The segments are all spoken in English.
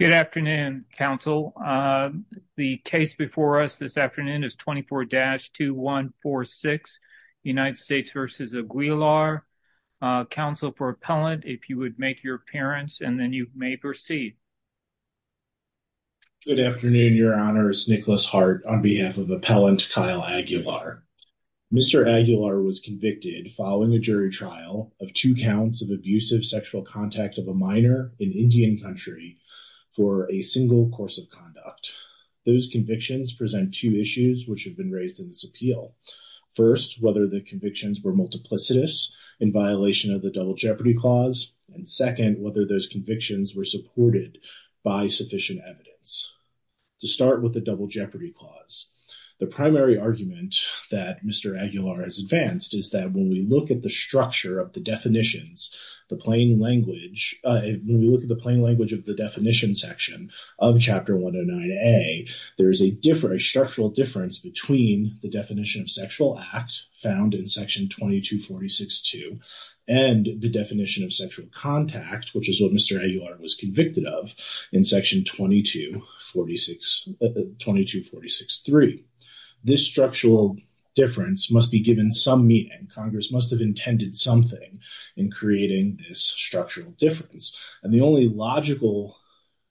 Good afternoon, counsel. The case before us this afternoon is 24-2146, United States v. Aguilar. Counsel for appellant, if you would make your appearance and then you may proceed. Good afternoon, your honors. Nicholas Hart on behalf of appellant Kyle Aguilar. Mr. Aguilar was convicted following a jury trial of two counts of abusive sexual contact of a minor in Indian country for a single course of conduct. Those convictions present two issues which have been raised in this appeal. First, whether the convictions were multiplicitous in violation of the double jeopardy clause and second, whether those convictions were supported by sufficient evidence. To start with the double jeopardy clause, the primary argument that Mr. Aguilar has advanced is that when we look at the structure of the definitions, the plain language, when we look at the plain language of the definition section of chapter 109a, there is a structural difference between the definition of sexual act found in section 2246-2 and the definition of sexual contact which is what Mr. Aguilar was convicted of in section 2246-3. This structural difference must be given some meaning. Congress must have intended something in creating this structural difference and the only logical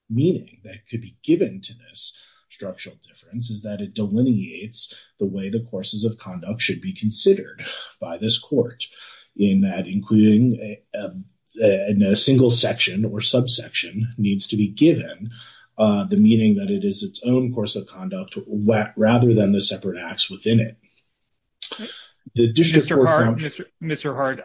meaning that could be given to this structural difference is that it delineates the way the courses of conduct should be considered by this court in that including a single section or subsection needs to be given the meaning that it is its own course of conduct rather than the separate acts within it. Mr. Hart,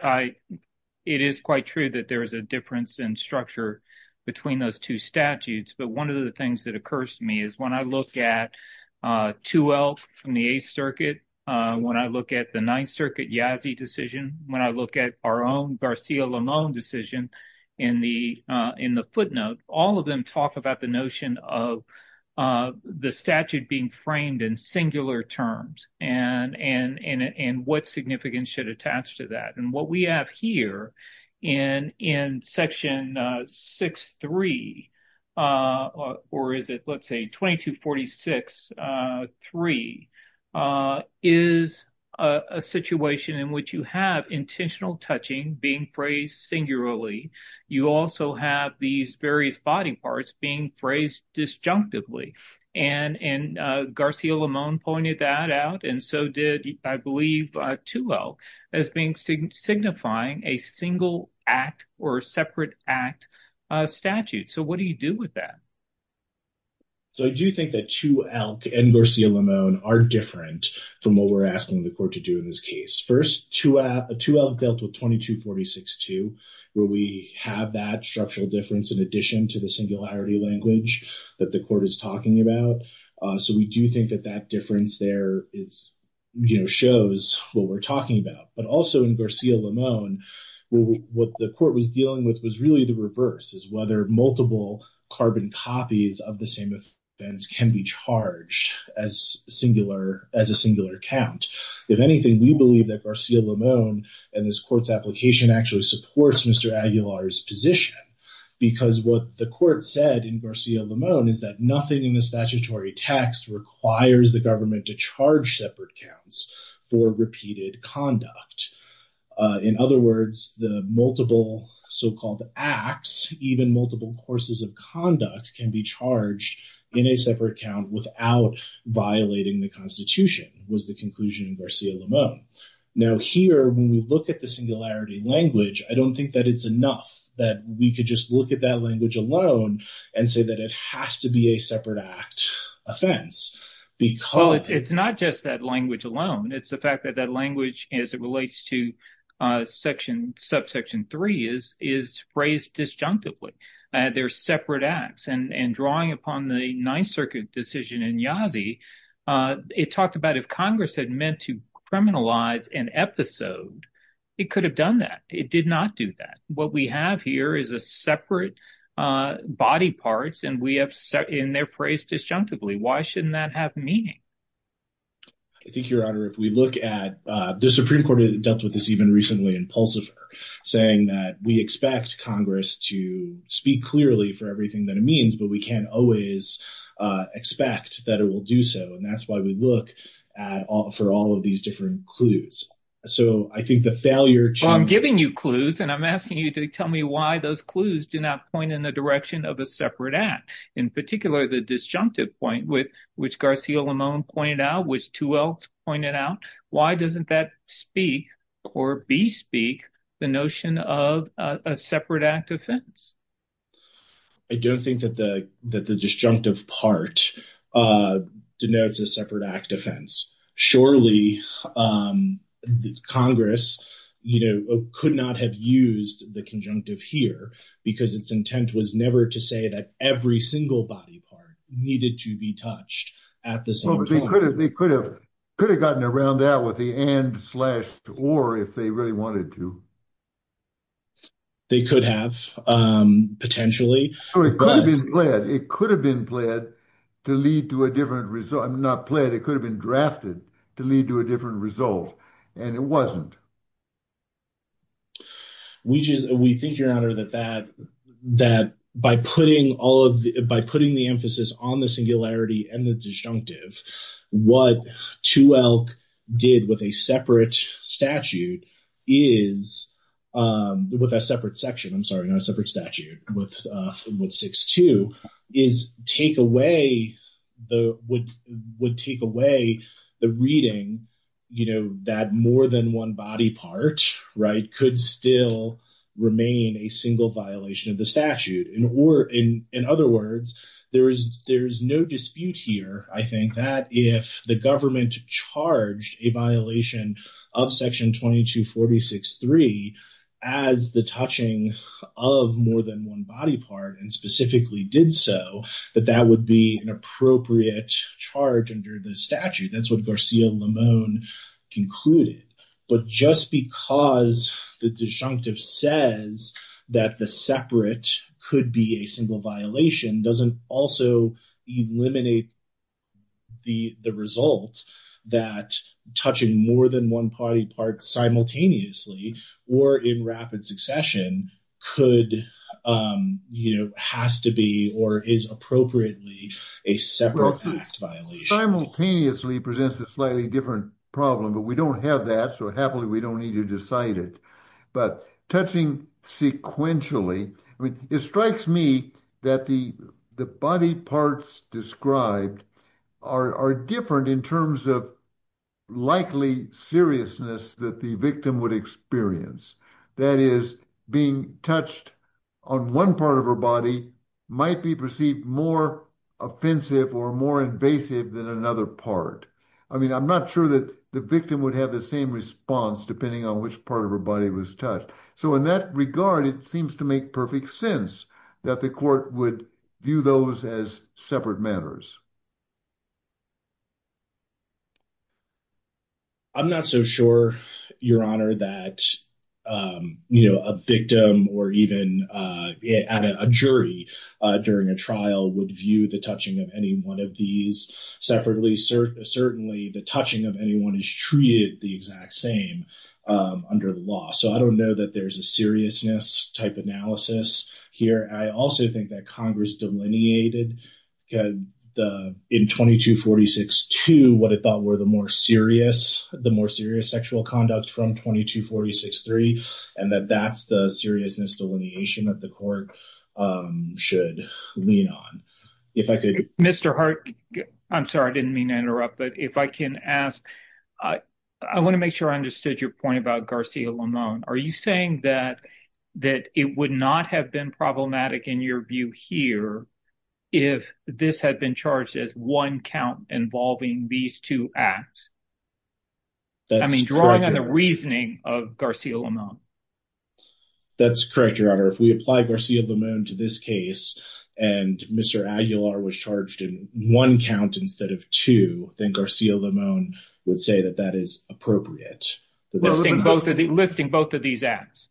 it is quite true that there is a difference in structure between those two statutes but one of the things that occurs to me is when I look at 2L from the 8th Circuit, when I look at the 9th Circuit Yazzie decision, when I look at our own Garcia-Lemone decision in the footnote, all of them talk about the notion of the statute being framed in singular terms and what significance should attach to that and what we have here in section 6-3 or is it let's say 2246-3 is a situation in which you have intentional touching being phrased singularly. You also have these various body parts being phrased disjunctively and Garcia-Lemone pointed that out and so did I believe 2L as being signifying a single act or a separate act statute. So what do you do with that? So I do think that 2L and Garcia-Lemone are different from what we're asking the court to do in this case. First, 2L dealt with 2246-2 where we have that structural difference in addition to the singularity language that the court is talking about. So we do think that that difference there is you know shows what we're talking about but also in Garcia-Lemone what the court was dealing with was really the reverse is whether multiple carbon copies of the same offense can be charged as singular as a singular count. If anything, we believe that Garcia-Lemone and this court's application actually supports Mr. Aguilar's because what the court said in Garcia-Lemone is that nothing in the statutory text requires the government to charge separate counts for repeated conduct. In other words, the multiple so-called acts even multiple courses of conduct can be charged in a separate count without violating the constitution was the conclusion in Garcia-Lemone. Now here when we look at the singularity language, I don't think that it's enough that we could just look at that language alone and say that it has to be a separate act offense because it's not just that language alone. It's the fact that that language as it relates to section subsection 3 is phrased disjunctively. They're separate acts and drawing upon the ninth circuit decision in Yazzie, it talked about if congress had meant to criminalize an episode, it could have done that. It did not do that. What we have here is a separate body parts and we have set in their phrase disjunctively. Why shouldn't that have meaning? I think your honor if we look at the supreme court that dealt with this even recently in Pulsifer saying that we expect congress to speak clearly for everything that it means but we can't always expect that it will do so and that's why we look at all for all of these different clues. So I think the failure to I'm giving you clues and I'm asking you to tell me why those clues do not point in the direction of a separate act in particular the disjunctive point with which Garcia-Lemone pointed out which two else pointed out why doesn't that speak or bespeak the notion of a separate act offense? I don't think that the that the disjunctive part denotes a separate act offense. Surely congress you know could not have used the conjunctive here because its intent was never to say that every single body part needed to be touched at the same time. They could have could have gotten around that with the and slash or if they really wanted to. They could have potentially. Or it could have been pled it could have been pled to lead to a different result not pled it could have been drafted to lead to a different result and it wasn't. We just we think your honor that that that by putting all of the by putting the emphasis on the singularity and the disjunctive what 2ELK did with a separate statute is with a separate section I'm sorry not a separate statute with 6-2 is take away the would would take away the reading you know that more than one body part right could still remain a single violation of statute in or in in other words there is there's no dispute here I think that if the government charged a violation of section 22-46-3 as the touching of more than one body part and specifically did so that that would be an appropriate charge under the statute that's what Garcia-Lamon concluded but just because the disjunctive says that the separate could be a single violation doesn't also eliminate the the result that touching more than one party part simultaneously or in rapid succession could you know has to be or is appropriately a separate act violation simultaneously presents a slightly different problem but we don't have that so happily we don't need to decide it but touching sequentially I mean it strikes me that the the body parts described are are different in terms of likely seriousness that the victim would experience that is being touched on one of her body might be perceived more offensive or more invasive than another part I mean I'm not sure that the victim would have the same response depending on which part of her body was touched so in that regard it seems to make perfect sense that the court would view those as separate matters I'm not so sure your honor that you know a victim or even a jury during a trial would view the touching of any one of these separately certainly the touching of anyone is treated the exact same under the law so I don't know that there's a seriousness type analysis here I also think that delineated the in 2246 to what I thought were the more serious the more serious sexual conduct from 2246 three and that that's the seriousness delineation that the court should lean on if I could Mr. Hart I'm sorry I didn't mean to interrupt but if I can ask I I want to make sure I understood your point about Garcia Lamon are you saying that that it would not have been problematic in your view here if this had been charged as one count involving these two acts I mean drawing on the reasoning of Garcia Lamon that's correct your honor if we apply Garcia Lamon to this case and Mr. Aguilar was charged in one count instead of two then Garcia Lamon would say that that is appropriate listing both of the listing both these acts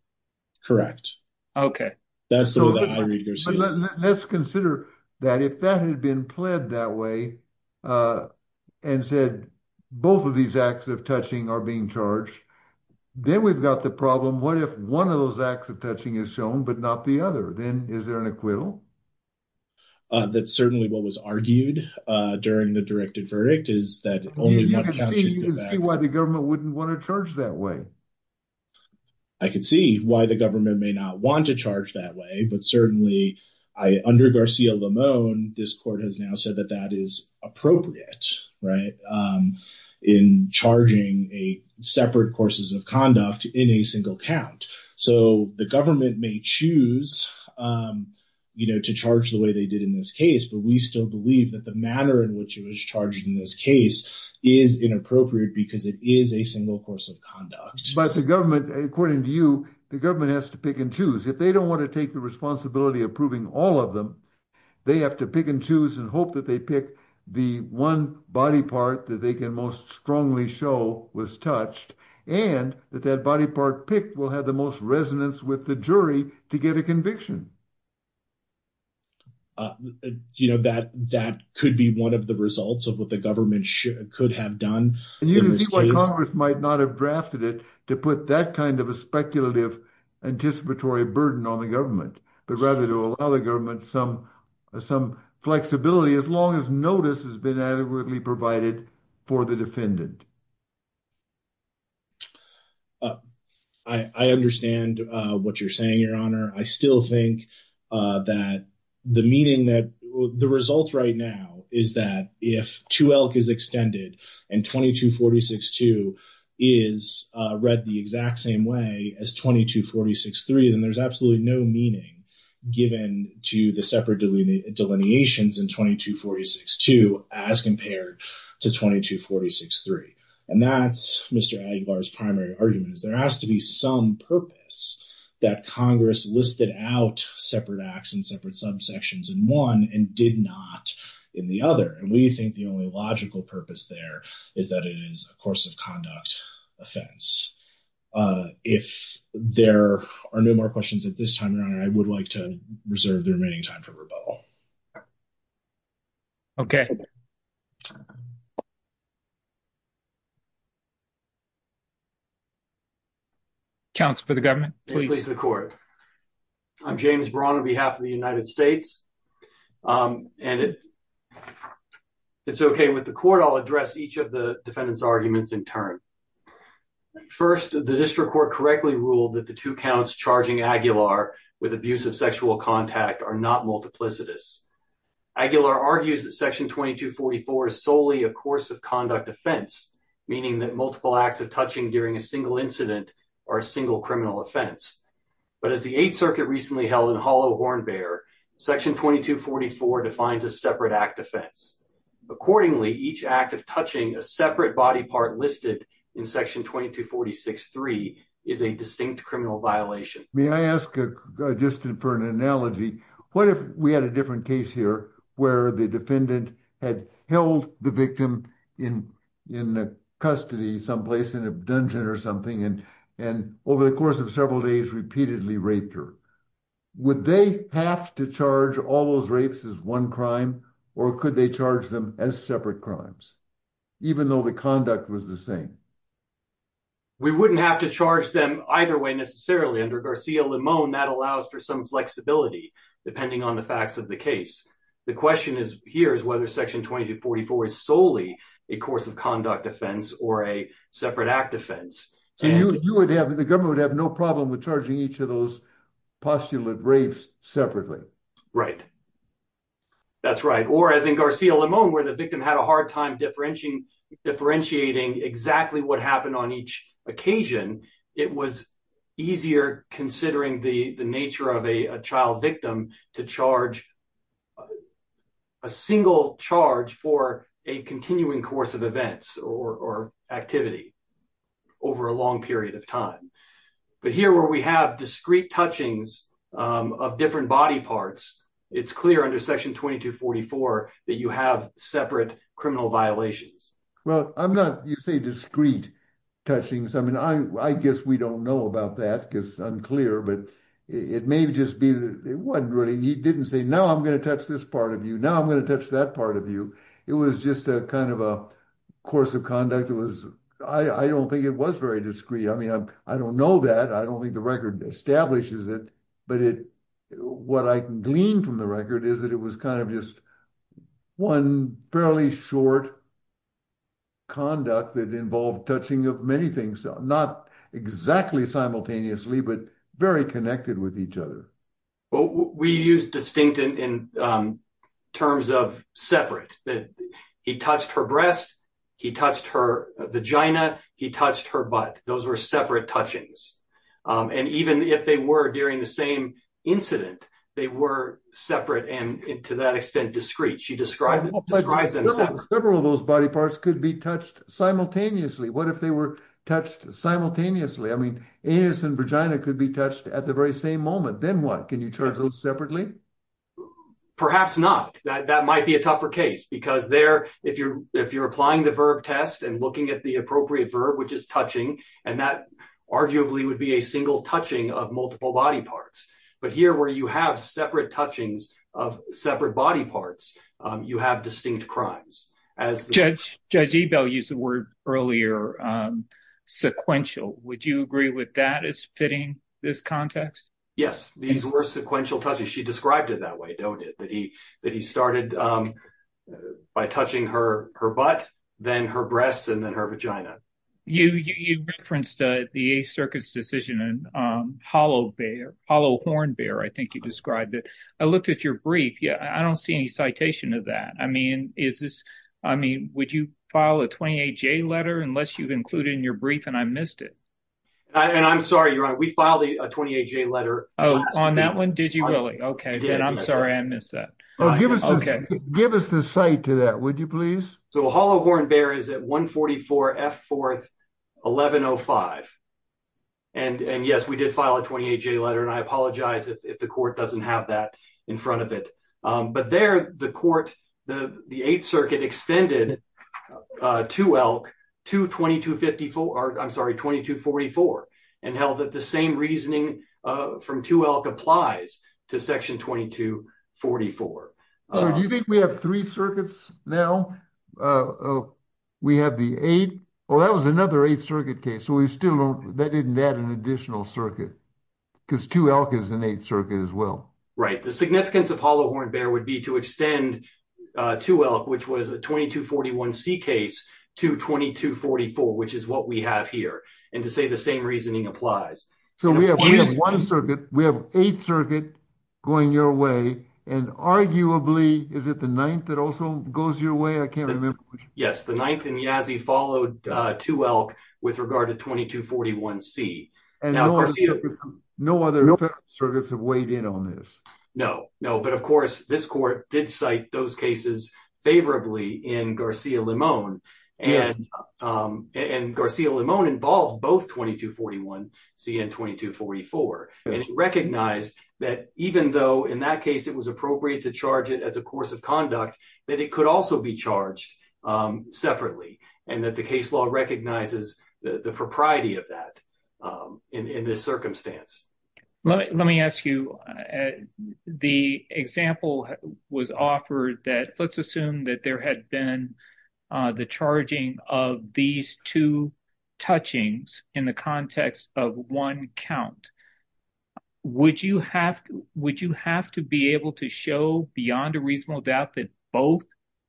correct okay that's so let's consider that if that had been pled that way and said both of these acts of touching are being charged then we've got the problem what if one of those acts of touching is shown but not the other then is there an acquittal that's certainly what was argued uh during the directed verdict is that only one you can see why the government wouldn't want to charge that way I could see why the government may not want to charge that way but certainly I under Garcia Lamon this court has now said that that is appropriate right in charging a separate courses of conduct in a single count so the government may choose you know to charge the way they did in this case but we still believe that the manner in which it charged in this case is inappropriate because it is a single course of conduct but the government according to you the government has to pick and choose if they don't want to take the responsibility of proving all of them they have to pick and choose and hope that they pick the one body part that they can most strongly show was touched and that that body part picked will have the the jury to get a conviction uh you know that that could be one of the results of what the government should could have done and you can see why congress might not have drafted it to put that kind of a speculative anticipatory burden on the government but rather to allow the government some some flexibility as long as notice has been adequately provided for the defendant uh i i understand uh what you're saying your honor i still think uh that the meaning that the result right now is that if two elk is extended and 2246-2 is uh read the exact same way as 2246-3 then there's absolutely no meaning given to the separate delineations in 2246-2 as compared to 2246-3 and that's mr aguilar's primary argument is there has to be some purpose that congress listed out separate acts and separate subsections in one and did not in the other and we think the only logical purpose there is that it is a course of conduct offense uh if there are no more questions at this time around i would like to reserve the remaining time for uh okay council for the government please the court i'm james braun on behalf of the united states um and it it's okay with the court i'll address each of the defendants arguments in turn first the district court correctly ruled that the two counts charging aguilar with abuse of sexual contact are not multiplicitous aguilar argues that section 2244 is solely a course of conduct offense meaning that multiple acts of touching during a single incident are a single criminal offense but as the eighth circuit recently held in hollow hornbearer section 2244 defines a separate act offense accordingly each act of touching a separate body part listed in section 2246-3 is a distinct criminal violation may i ask a just for an analogy what if we had a different case here where the defendant had held the victim in in a custody someplace in a dungeon or something and and over the course of several days repeatedly raped her would they have to charge all those rapes as one crime or could they charge them as separate crimes even though the conduct was the same we wouldn't have to charge them either way necessarily under garcia limon that allows for some flexibility depending on the facts of the case the question is here is whether section 2244 is solely a course of conduct offense or a separate act offense so you would have the government would have no problem with charging each of those postulate rapes separately right that's right or as in garcia limon where the victim had a hard time differentiating exactly what happened on each occasion it was easier considering the nature of a child victim to charge a single charge for a continuing course of events or activity over a long period of time but here where we have discrete touchings of different body parts it's clear under section 2244 that you have separate criminal violations well i'm not you say discrete touchings i mean i i guess we don't know about that because i'm clear but it may just be that it wasn't really he didn't say now i'm going to touch this part of you now i'm going to touch that part of you it was just a kind of a course of conduct it was i i don't think it was very discreet i mean i don't know that i don't think the record establishes it but it what i gleaned from the record is that it was kind of just one fairly short conduct that involved touching of many things not exactly simultaneously but very connected with each other well we use distinct in terms of separate that he touched her breast he touched her vagina he touched her butt those were separate touchings and even if they were during the same incident they were separate and to that extent discreet she described several of those body parts could be touched simultaneously what if they were touched simultaneously i mean anus and vagina could be touched at the very same moment then what can you charge those separately perhaps not that that might be a tougher case because there if you're if you're applying the verb test and looking at the appropriate verb which is touching and that arguably would be a single touching of multiple body parts but here where you have separate touchings of separate body parts you have distinct crimes as judge judge ebell used the word earlier um sequential would you agree with that as fitting this context yes these were sequential touches she described it that way don't it that he started um by touching her her butt then her breasts and then her vagina you you referenced the eighth circuit's decision and um hollow bear hollow horn bear i think you described it i looked at your brief yeah i don't see any citation of that i mean is this i mean would you file a 28 j letter unless you've included in your brief and i missed it and i'm sorry your honor we filed a letter oh on that one did you really okay i'm sorry i missed that okay give us the site to that would you please so hollow horn bear is at 144 f fourth 1105 and and yes we did file a 28j letter and i apologize if the court doesn't have that in front of it um but there the court the the eighth circuit extended uh to elk to 2254 i'm sorry 2244 and held that the same reasoning uh from two elk applies to section 2244 so do you think we have three circuits now uh we have the eight well that was another eight circuit case so we still don't that didn't add an additional circuit because two elk is an eighth circuit as well right the significance of hollow elk which was a 2241c case to 2244 which is what we have here and to say the same reasoning applies so we have one circuit we have eight circuit going your way and arguably is it the ninth that also goes your way i can't remember yes the ninth and yazzy followed uh two elk with regard to 2241c no other circuits have weighed in on this no no but of course this court did cite those cases favorably in garcia limon and um and garcia limon involved both 2241c and 2244 and recognized that even though in that case it was appropriate to charge it as a course of conduct that it could also be charged um separately and that the case law recognizes the the propriety of that um in circumstance let me let me ask you the example was offered that let's assume that there had been uh the charging of these two touchings in the context of one count would you have would you have to be able to show beyond a reasonable doubt that both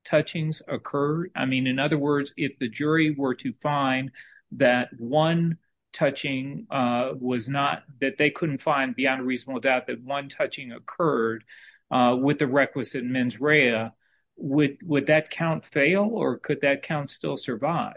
touchings occur i mean in other words if the jury were to find that one touching uh was not that they couldn't find beyond a reasonable doubt that one touching occurred uh with the requisite mens rea would would that count fail or could that count still survive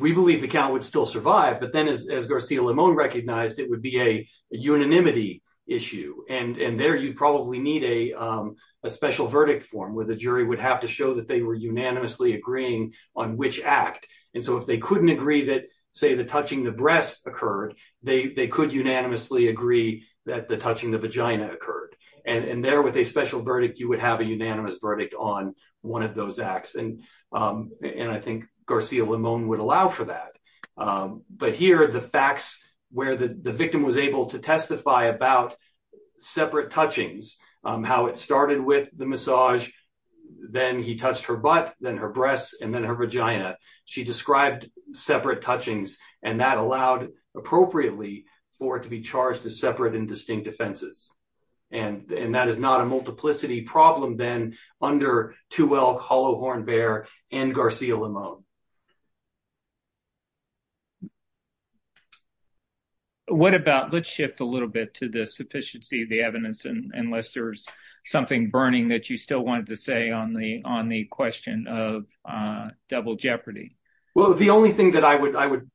we believe the count would still survive but then as garcia limon recognized it would be a unanimity issue and and there you'd probably need a um a special verdict form where the jury would have to show that they were unanimously agreeing on which act and so if they couldn't agree that say the touching the breast occurred they they could unanimously agree that the touching the vagina occurred and and there with a special verdict you would have a unanimous verdict on one of those acts and um and i think garcia limon would allow for that um but here the facts where the the victim was able to testify about separate touchings um how it started with the massage then he touched her butt then her breasts and then her vagina she described separate touchings and that allowed appropriately for it to be charged as separate and distinct offenses and and that is not a multiplicity problem then under two elk hollow horn bear and garcia limon what about let's shift a little bit to the sufficiency of the evidence and unless there's something burning that you still wanted to say on the on the question of uh double jeopardy well the only thing that i would i would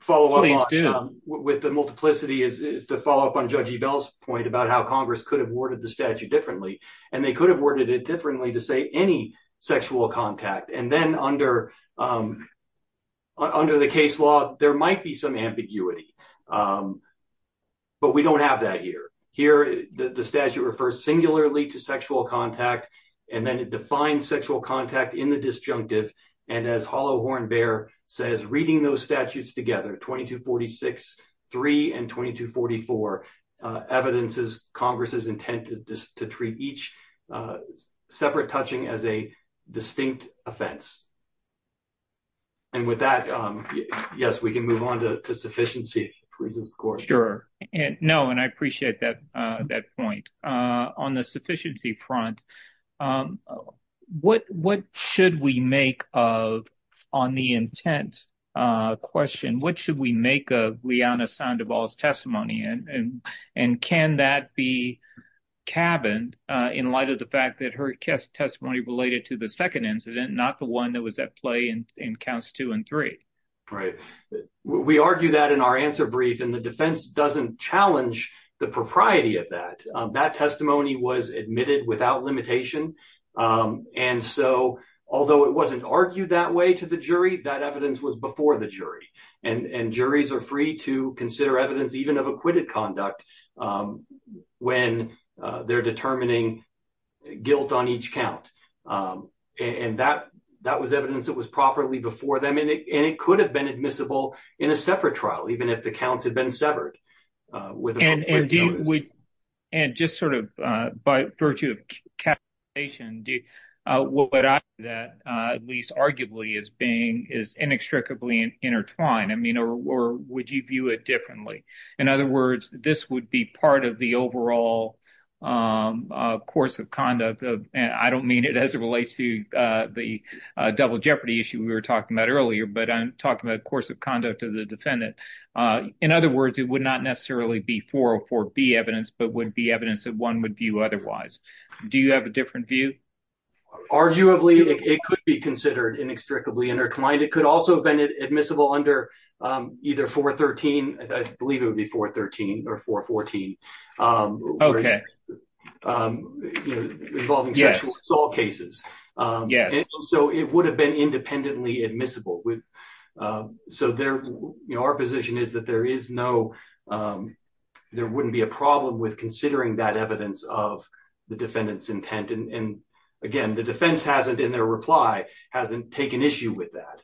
follow up with the multiplicity is is to follow up on judge ebell's point about how congress could have worded the statute differently and they could have worded differently to say any sexual contact and then under um under the case law there might be some ambiguity um but we don't have that here here the statute refers singularly to sexual contact and then it defines sexual contact in the disjunctive and as hollow horn bear says reading those statutes together 22 46 3 and 22 44 uh evidence is congress's intent to treat each separate touching as a distinct offense and with that um yes we can move on to sufficiency please of course sure and no and i appreciate that uh that point uh on the sufficiency front um what what should we make of on the intent uh question what should we make of liana sandoval's testimony and and can that be cabined uh in light of the fact that her testimony related to the second incident not the one that was at play in in counts two and three right we argue that in our answer brief and the defense doesn't challenge the propriety of that that testimony was admitted without limitation um and so although it wasn't argued that way to the jury that evidence was before the jury and and juries are free to consider evidence even of acquitted conduct when they're determining guilt on each count um and that that was evidence that was properly before them and it could have been admissible in a separate trial even if the counts had been severed uh with and indeed we and just sort of uh by virtue of capitalization do uh what i that uh at least arguably is being is inextricably intertwined i mean or would you view it differently in other words this would be part of the overall um course of conduct of and i don't mean it as it relates to uh the uh double jeopardy issue we were talking about earlier but i'm talking about course of conduct of the defendant uh in other words it would not necessarily be 404b evidence but would be evidence that one would view otherwise do you have a different view arguably it could be considered inextricably intertwined it could also have been admissible under um either 413 i believe it would be 413 or 414 um okay um involving sexual assault cases um yeah so it would have been independently admissible with um so there you know our position is that there is no um there wouldn't be a problem with considering that evidence of the defendant's intent and and again the defense hasn't in their reply hasn't taken issue with that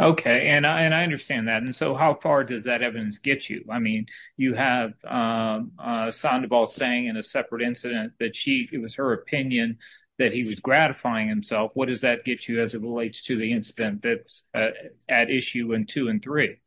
okay and i and i understand that and so how far does that evidence get you i mean you have um uh sandoval saying in a separate incident that she it was her opinion that he was gratifying himself what does that get you as it relates to the incident that's at issue and two and three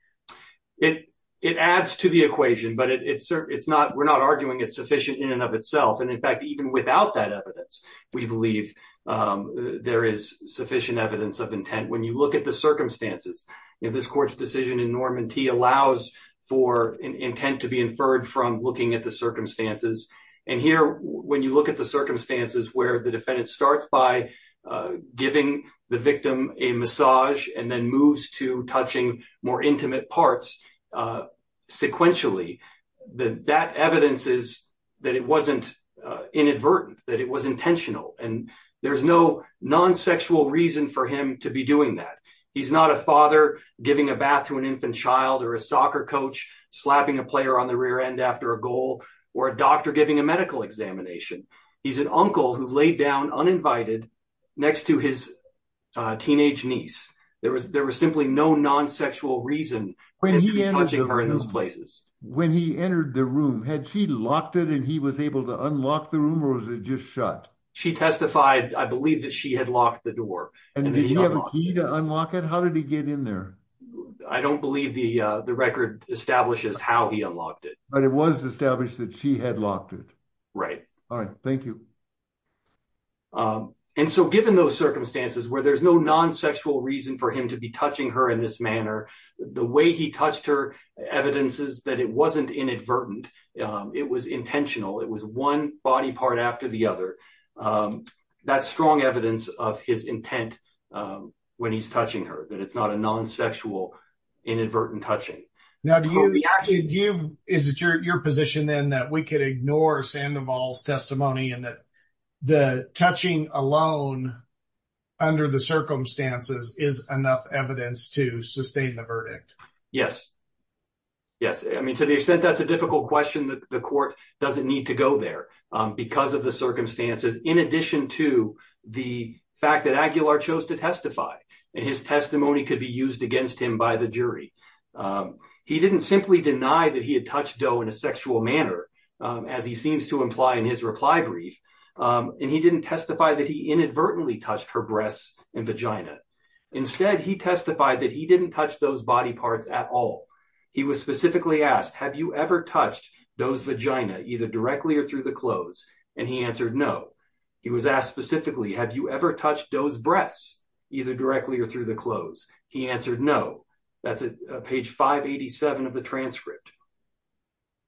it it adds to the equation but it's it's not we're not arguing it's sufficient in and of itself and in fact even without that evidence we believe um there is sufficient evidence of intent when you look at the circumstances you know this court's decision in norman t allows for an intent to be inferred from looking at the circumstances and here when you look at the circumstances where the defendant starts by uh giving the victim a massage and then moves to touching more intimate parts uh sequentially the that evidence is that it wasn't uh inadvertent that it was intentional and there's no non-sexual reason for him to be doing that he's not a father giving a bath to an infant child or a soccer coach slapping a player on the rear end after a goal or a doctor giving a medical examination he's an uncle who laid down uninvited next to his uh teenage niece there was there was simply no non-sexual reason when he was in those places when he entered the room had she locked it and he was able to unlock the room or was it just shut she testified i believe that she had locked the door and did he have a key to unlock it how did he get in there i don't believe the uh the record establishes how he unlocked it but it was established that she had locked it right all right thank you um and so given those circumstances where there's no non-sexual reason for him to be touching her in this manner the way he touched her evidence is that it wasn't inadvertent um it was intentional it was one body part after the other um that's strong evidence of his intent um when he's touching her that it's not a non-sexual inadvertent touching now do you actually do you is it your position then that we could ignore sandoval's testimony and that the touching alone under the circumstances is enough evidence to sustain the verdict yes yes i mean to the extent that's a difficult question that the court doesn't need to go there um because of the circumstances in addition to the fact that aguilar chose to and his testimony could be used against him by the jury he didn't simply deny that he had touched doe in a sexual manner as he seems to imply in his reply brief and he didn't testify that he inadvertently touched her breasts and vagina instead he testified that he didn't touch those body parts at all he was specifically asked have you ever touched those vagina either directly or through the clothes and he answered no he was asked specifically have you ever touched those breasts either directly or through the clothes he answered no that's a page 587 of the transcript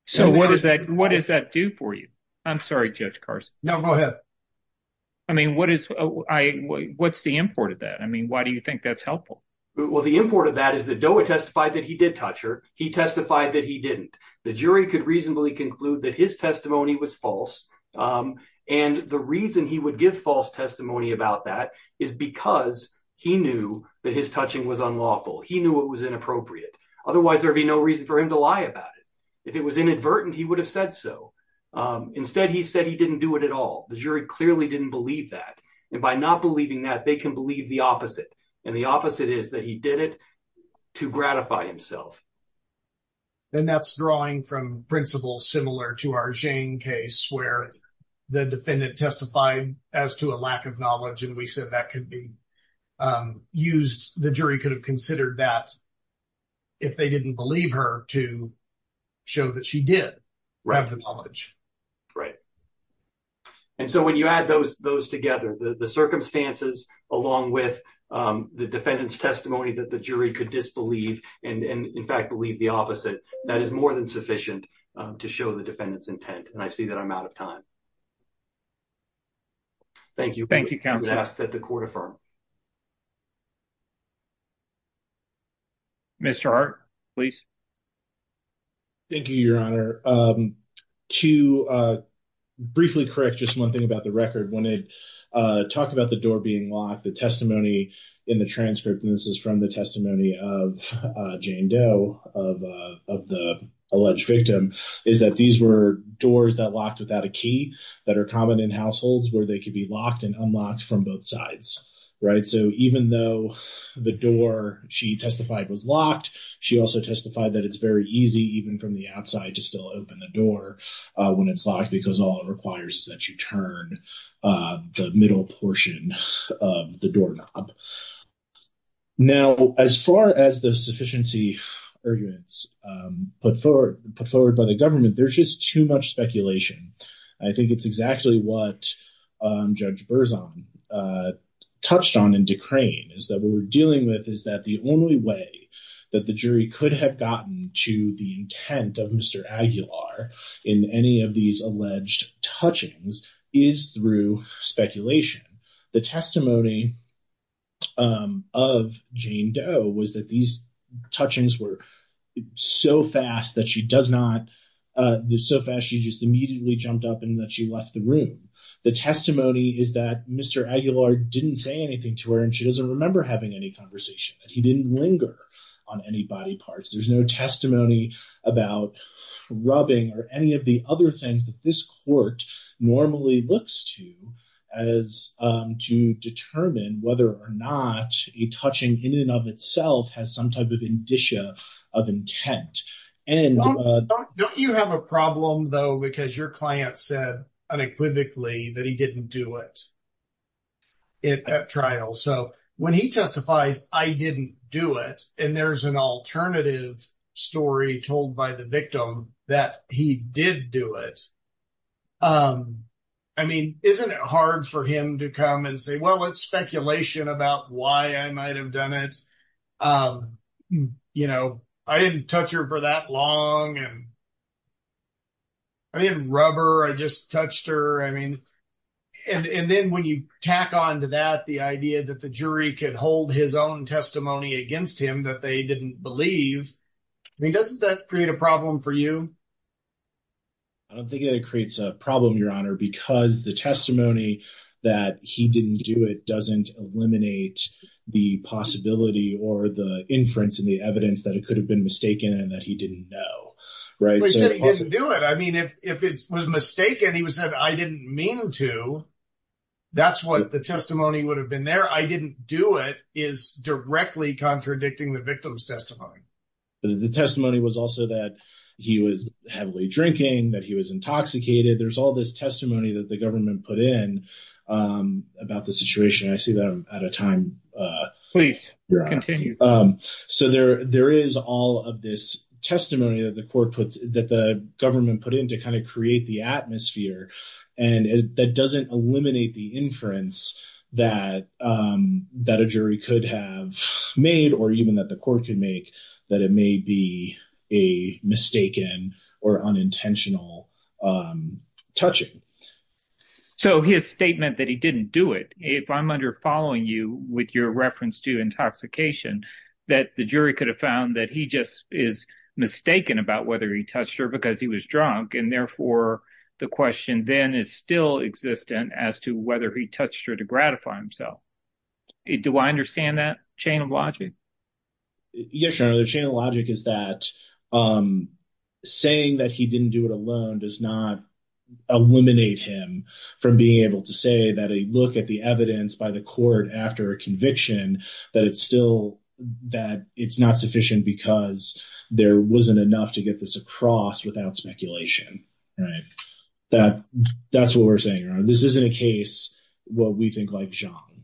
so what does that what does that do for you i'm sorry judge cars now go ahead i mean what is i what's the import of that i mean why do you think that's helpful well the import of that is that doe testified that he did touch her he testified that he didn't the jury could reasonably conclude that his testimony was false and the reason he would give false testimony about that is because he knew that his touching was unlawful he knew it was inappropriate otherwise there'd be no reason for him to lie about it if it was inadvertent he would have said so instead he said he didn't do it at all the jury clearly didn't believe that and by not believing that they can believe the opposite and the opposite is that he did it to gratify himself then that's drawing from principles similar to our jane case where the defendant testified as to a lack of knowledge and we said that could be used the jury could have considered that if they didn't believe her to show that she did grab the knowledge right and so when you add those those together the the circumstances along with the defendant's testimony that the jury could disbelieve and and in fact believe the opposite that is more than sufficient to show the defendant's intent and i see that i'm out of time thank you thank you count that the court affirmed mr art please thank you your honor um to uh briefly correct just one thing about the record wanted uh talk about the door being locked the testimony in the transcript and this is from the of uh jane doe of uh of the alleged victim is that these were doors that locked without a key that are common in households where they could be locked and unlocked from both sides right so even though the door she testified was locked she also testified that it's very easy even from the outside to still open the door uh when it's locked because all it requires is that you turn uh the middle portion of the doorknob now as far as the sufficiency arguments um put forward put forward by the government there's just too much speculation i think it's exactly what um judge berzon uh touched on in decraying is that what we're dealing with is that the only way that the jury could have gotten to the intent of mr aguilar in any of these alleged touchings is through speculation the testimony um of jane doe was that these touchings were so fast that she does not uh so fast she just immediately jumped up and that she left the room the testimony is that mr aguilar didn't say anything to her and she doesn't remember having any conversation that he didn't linger on any body parts there's no testimony about rubbing or any of the other things that this court normally looks to as um to determine whether or not a touching in and of itself has some type of indicia of intent and uh don't you have a problem though because your client said unequivocally that he didn't do it it at trial so when he testifies i didn't do it and there's an alternative story told by the victim that he did do it um i mean isn't it hard for him to come and say well it's speculation about why i might have done it um you know i didn't touch her for that long and i didn't rub her i just touched her i mean and and then when you tack on to that the idea that the jury could hold his own testimony against him that they didn't believe i mean doesn't that create a problem for you i don't think it creates a problem your honor because the testimony that he didn't do it doesn't eliminate the possibility or the inference and the evidence that it could have been mistaken and that he didn't know right he said he didn't do it i mean if if it was mistaken he said i didn't mean to that's what the testimony would have been there i didn't do it is directly contradicting the victim's testimony the testimony was also that he was heavily drinking that he was intoxicated there's all this testimony that the government put in um about the situation i see them at a time uh please continue um so there there is all of this testimony that the court puts that the government put in to kind of create the atmosphere and that doesn't eliminate the inference that um that a jury could have made or even that the that it may be a mistaken or unintentional um touching so his statement that he didn't do it if i'm under following you with your reference to intoxication that the jury could have found that he just is mistaken about whether he touched her because he was drunk and therefore the question then is still existent as to whether he touched her to gratify himself do i understand that chain of logic yes your honor the chain of logic is that um saying that he didn't do it alone does not eliminate him from being able to say that a look at the evidence by the court after a conviction that it's still that it's not sufficient because there wasn't enough to get this across without speculation right that that's what we're saying this isn't a case what we think like john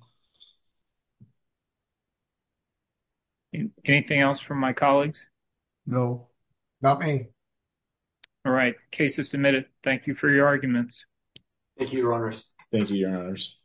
anything else from my colleagues no not me all right case is submitted thank you for your arguments thank you your honors thank you your honors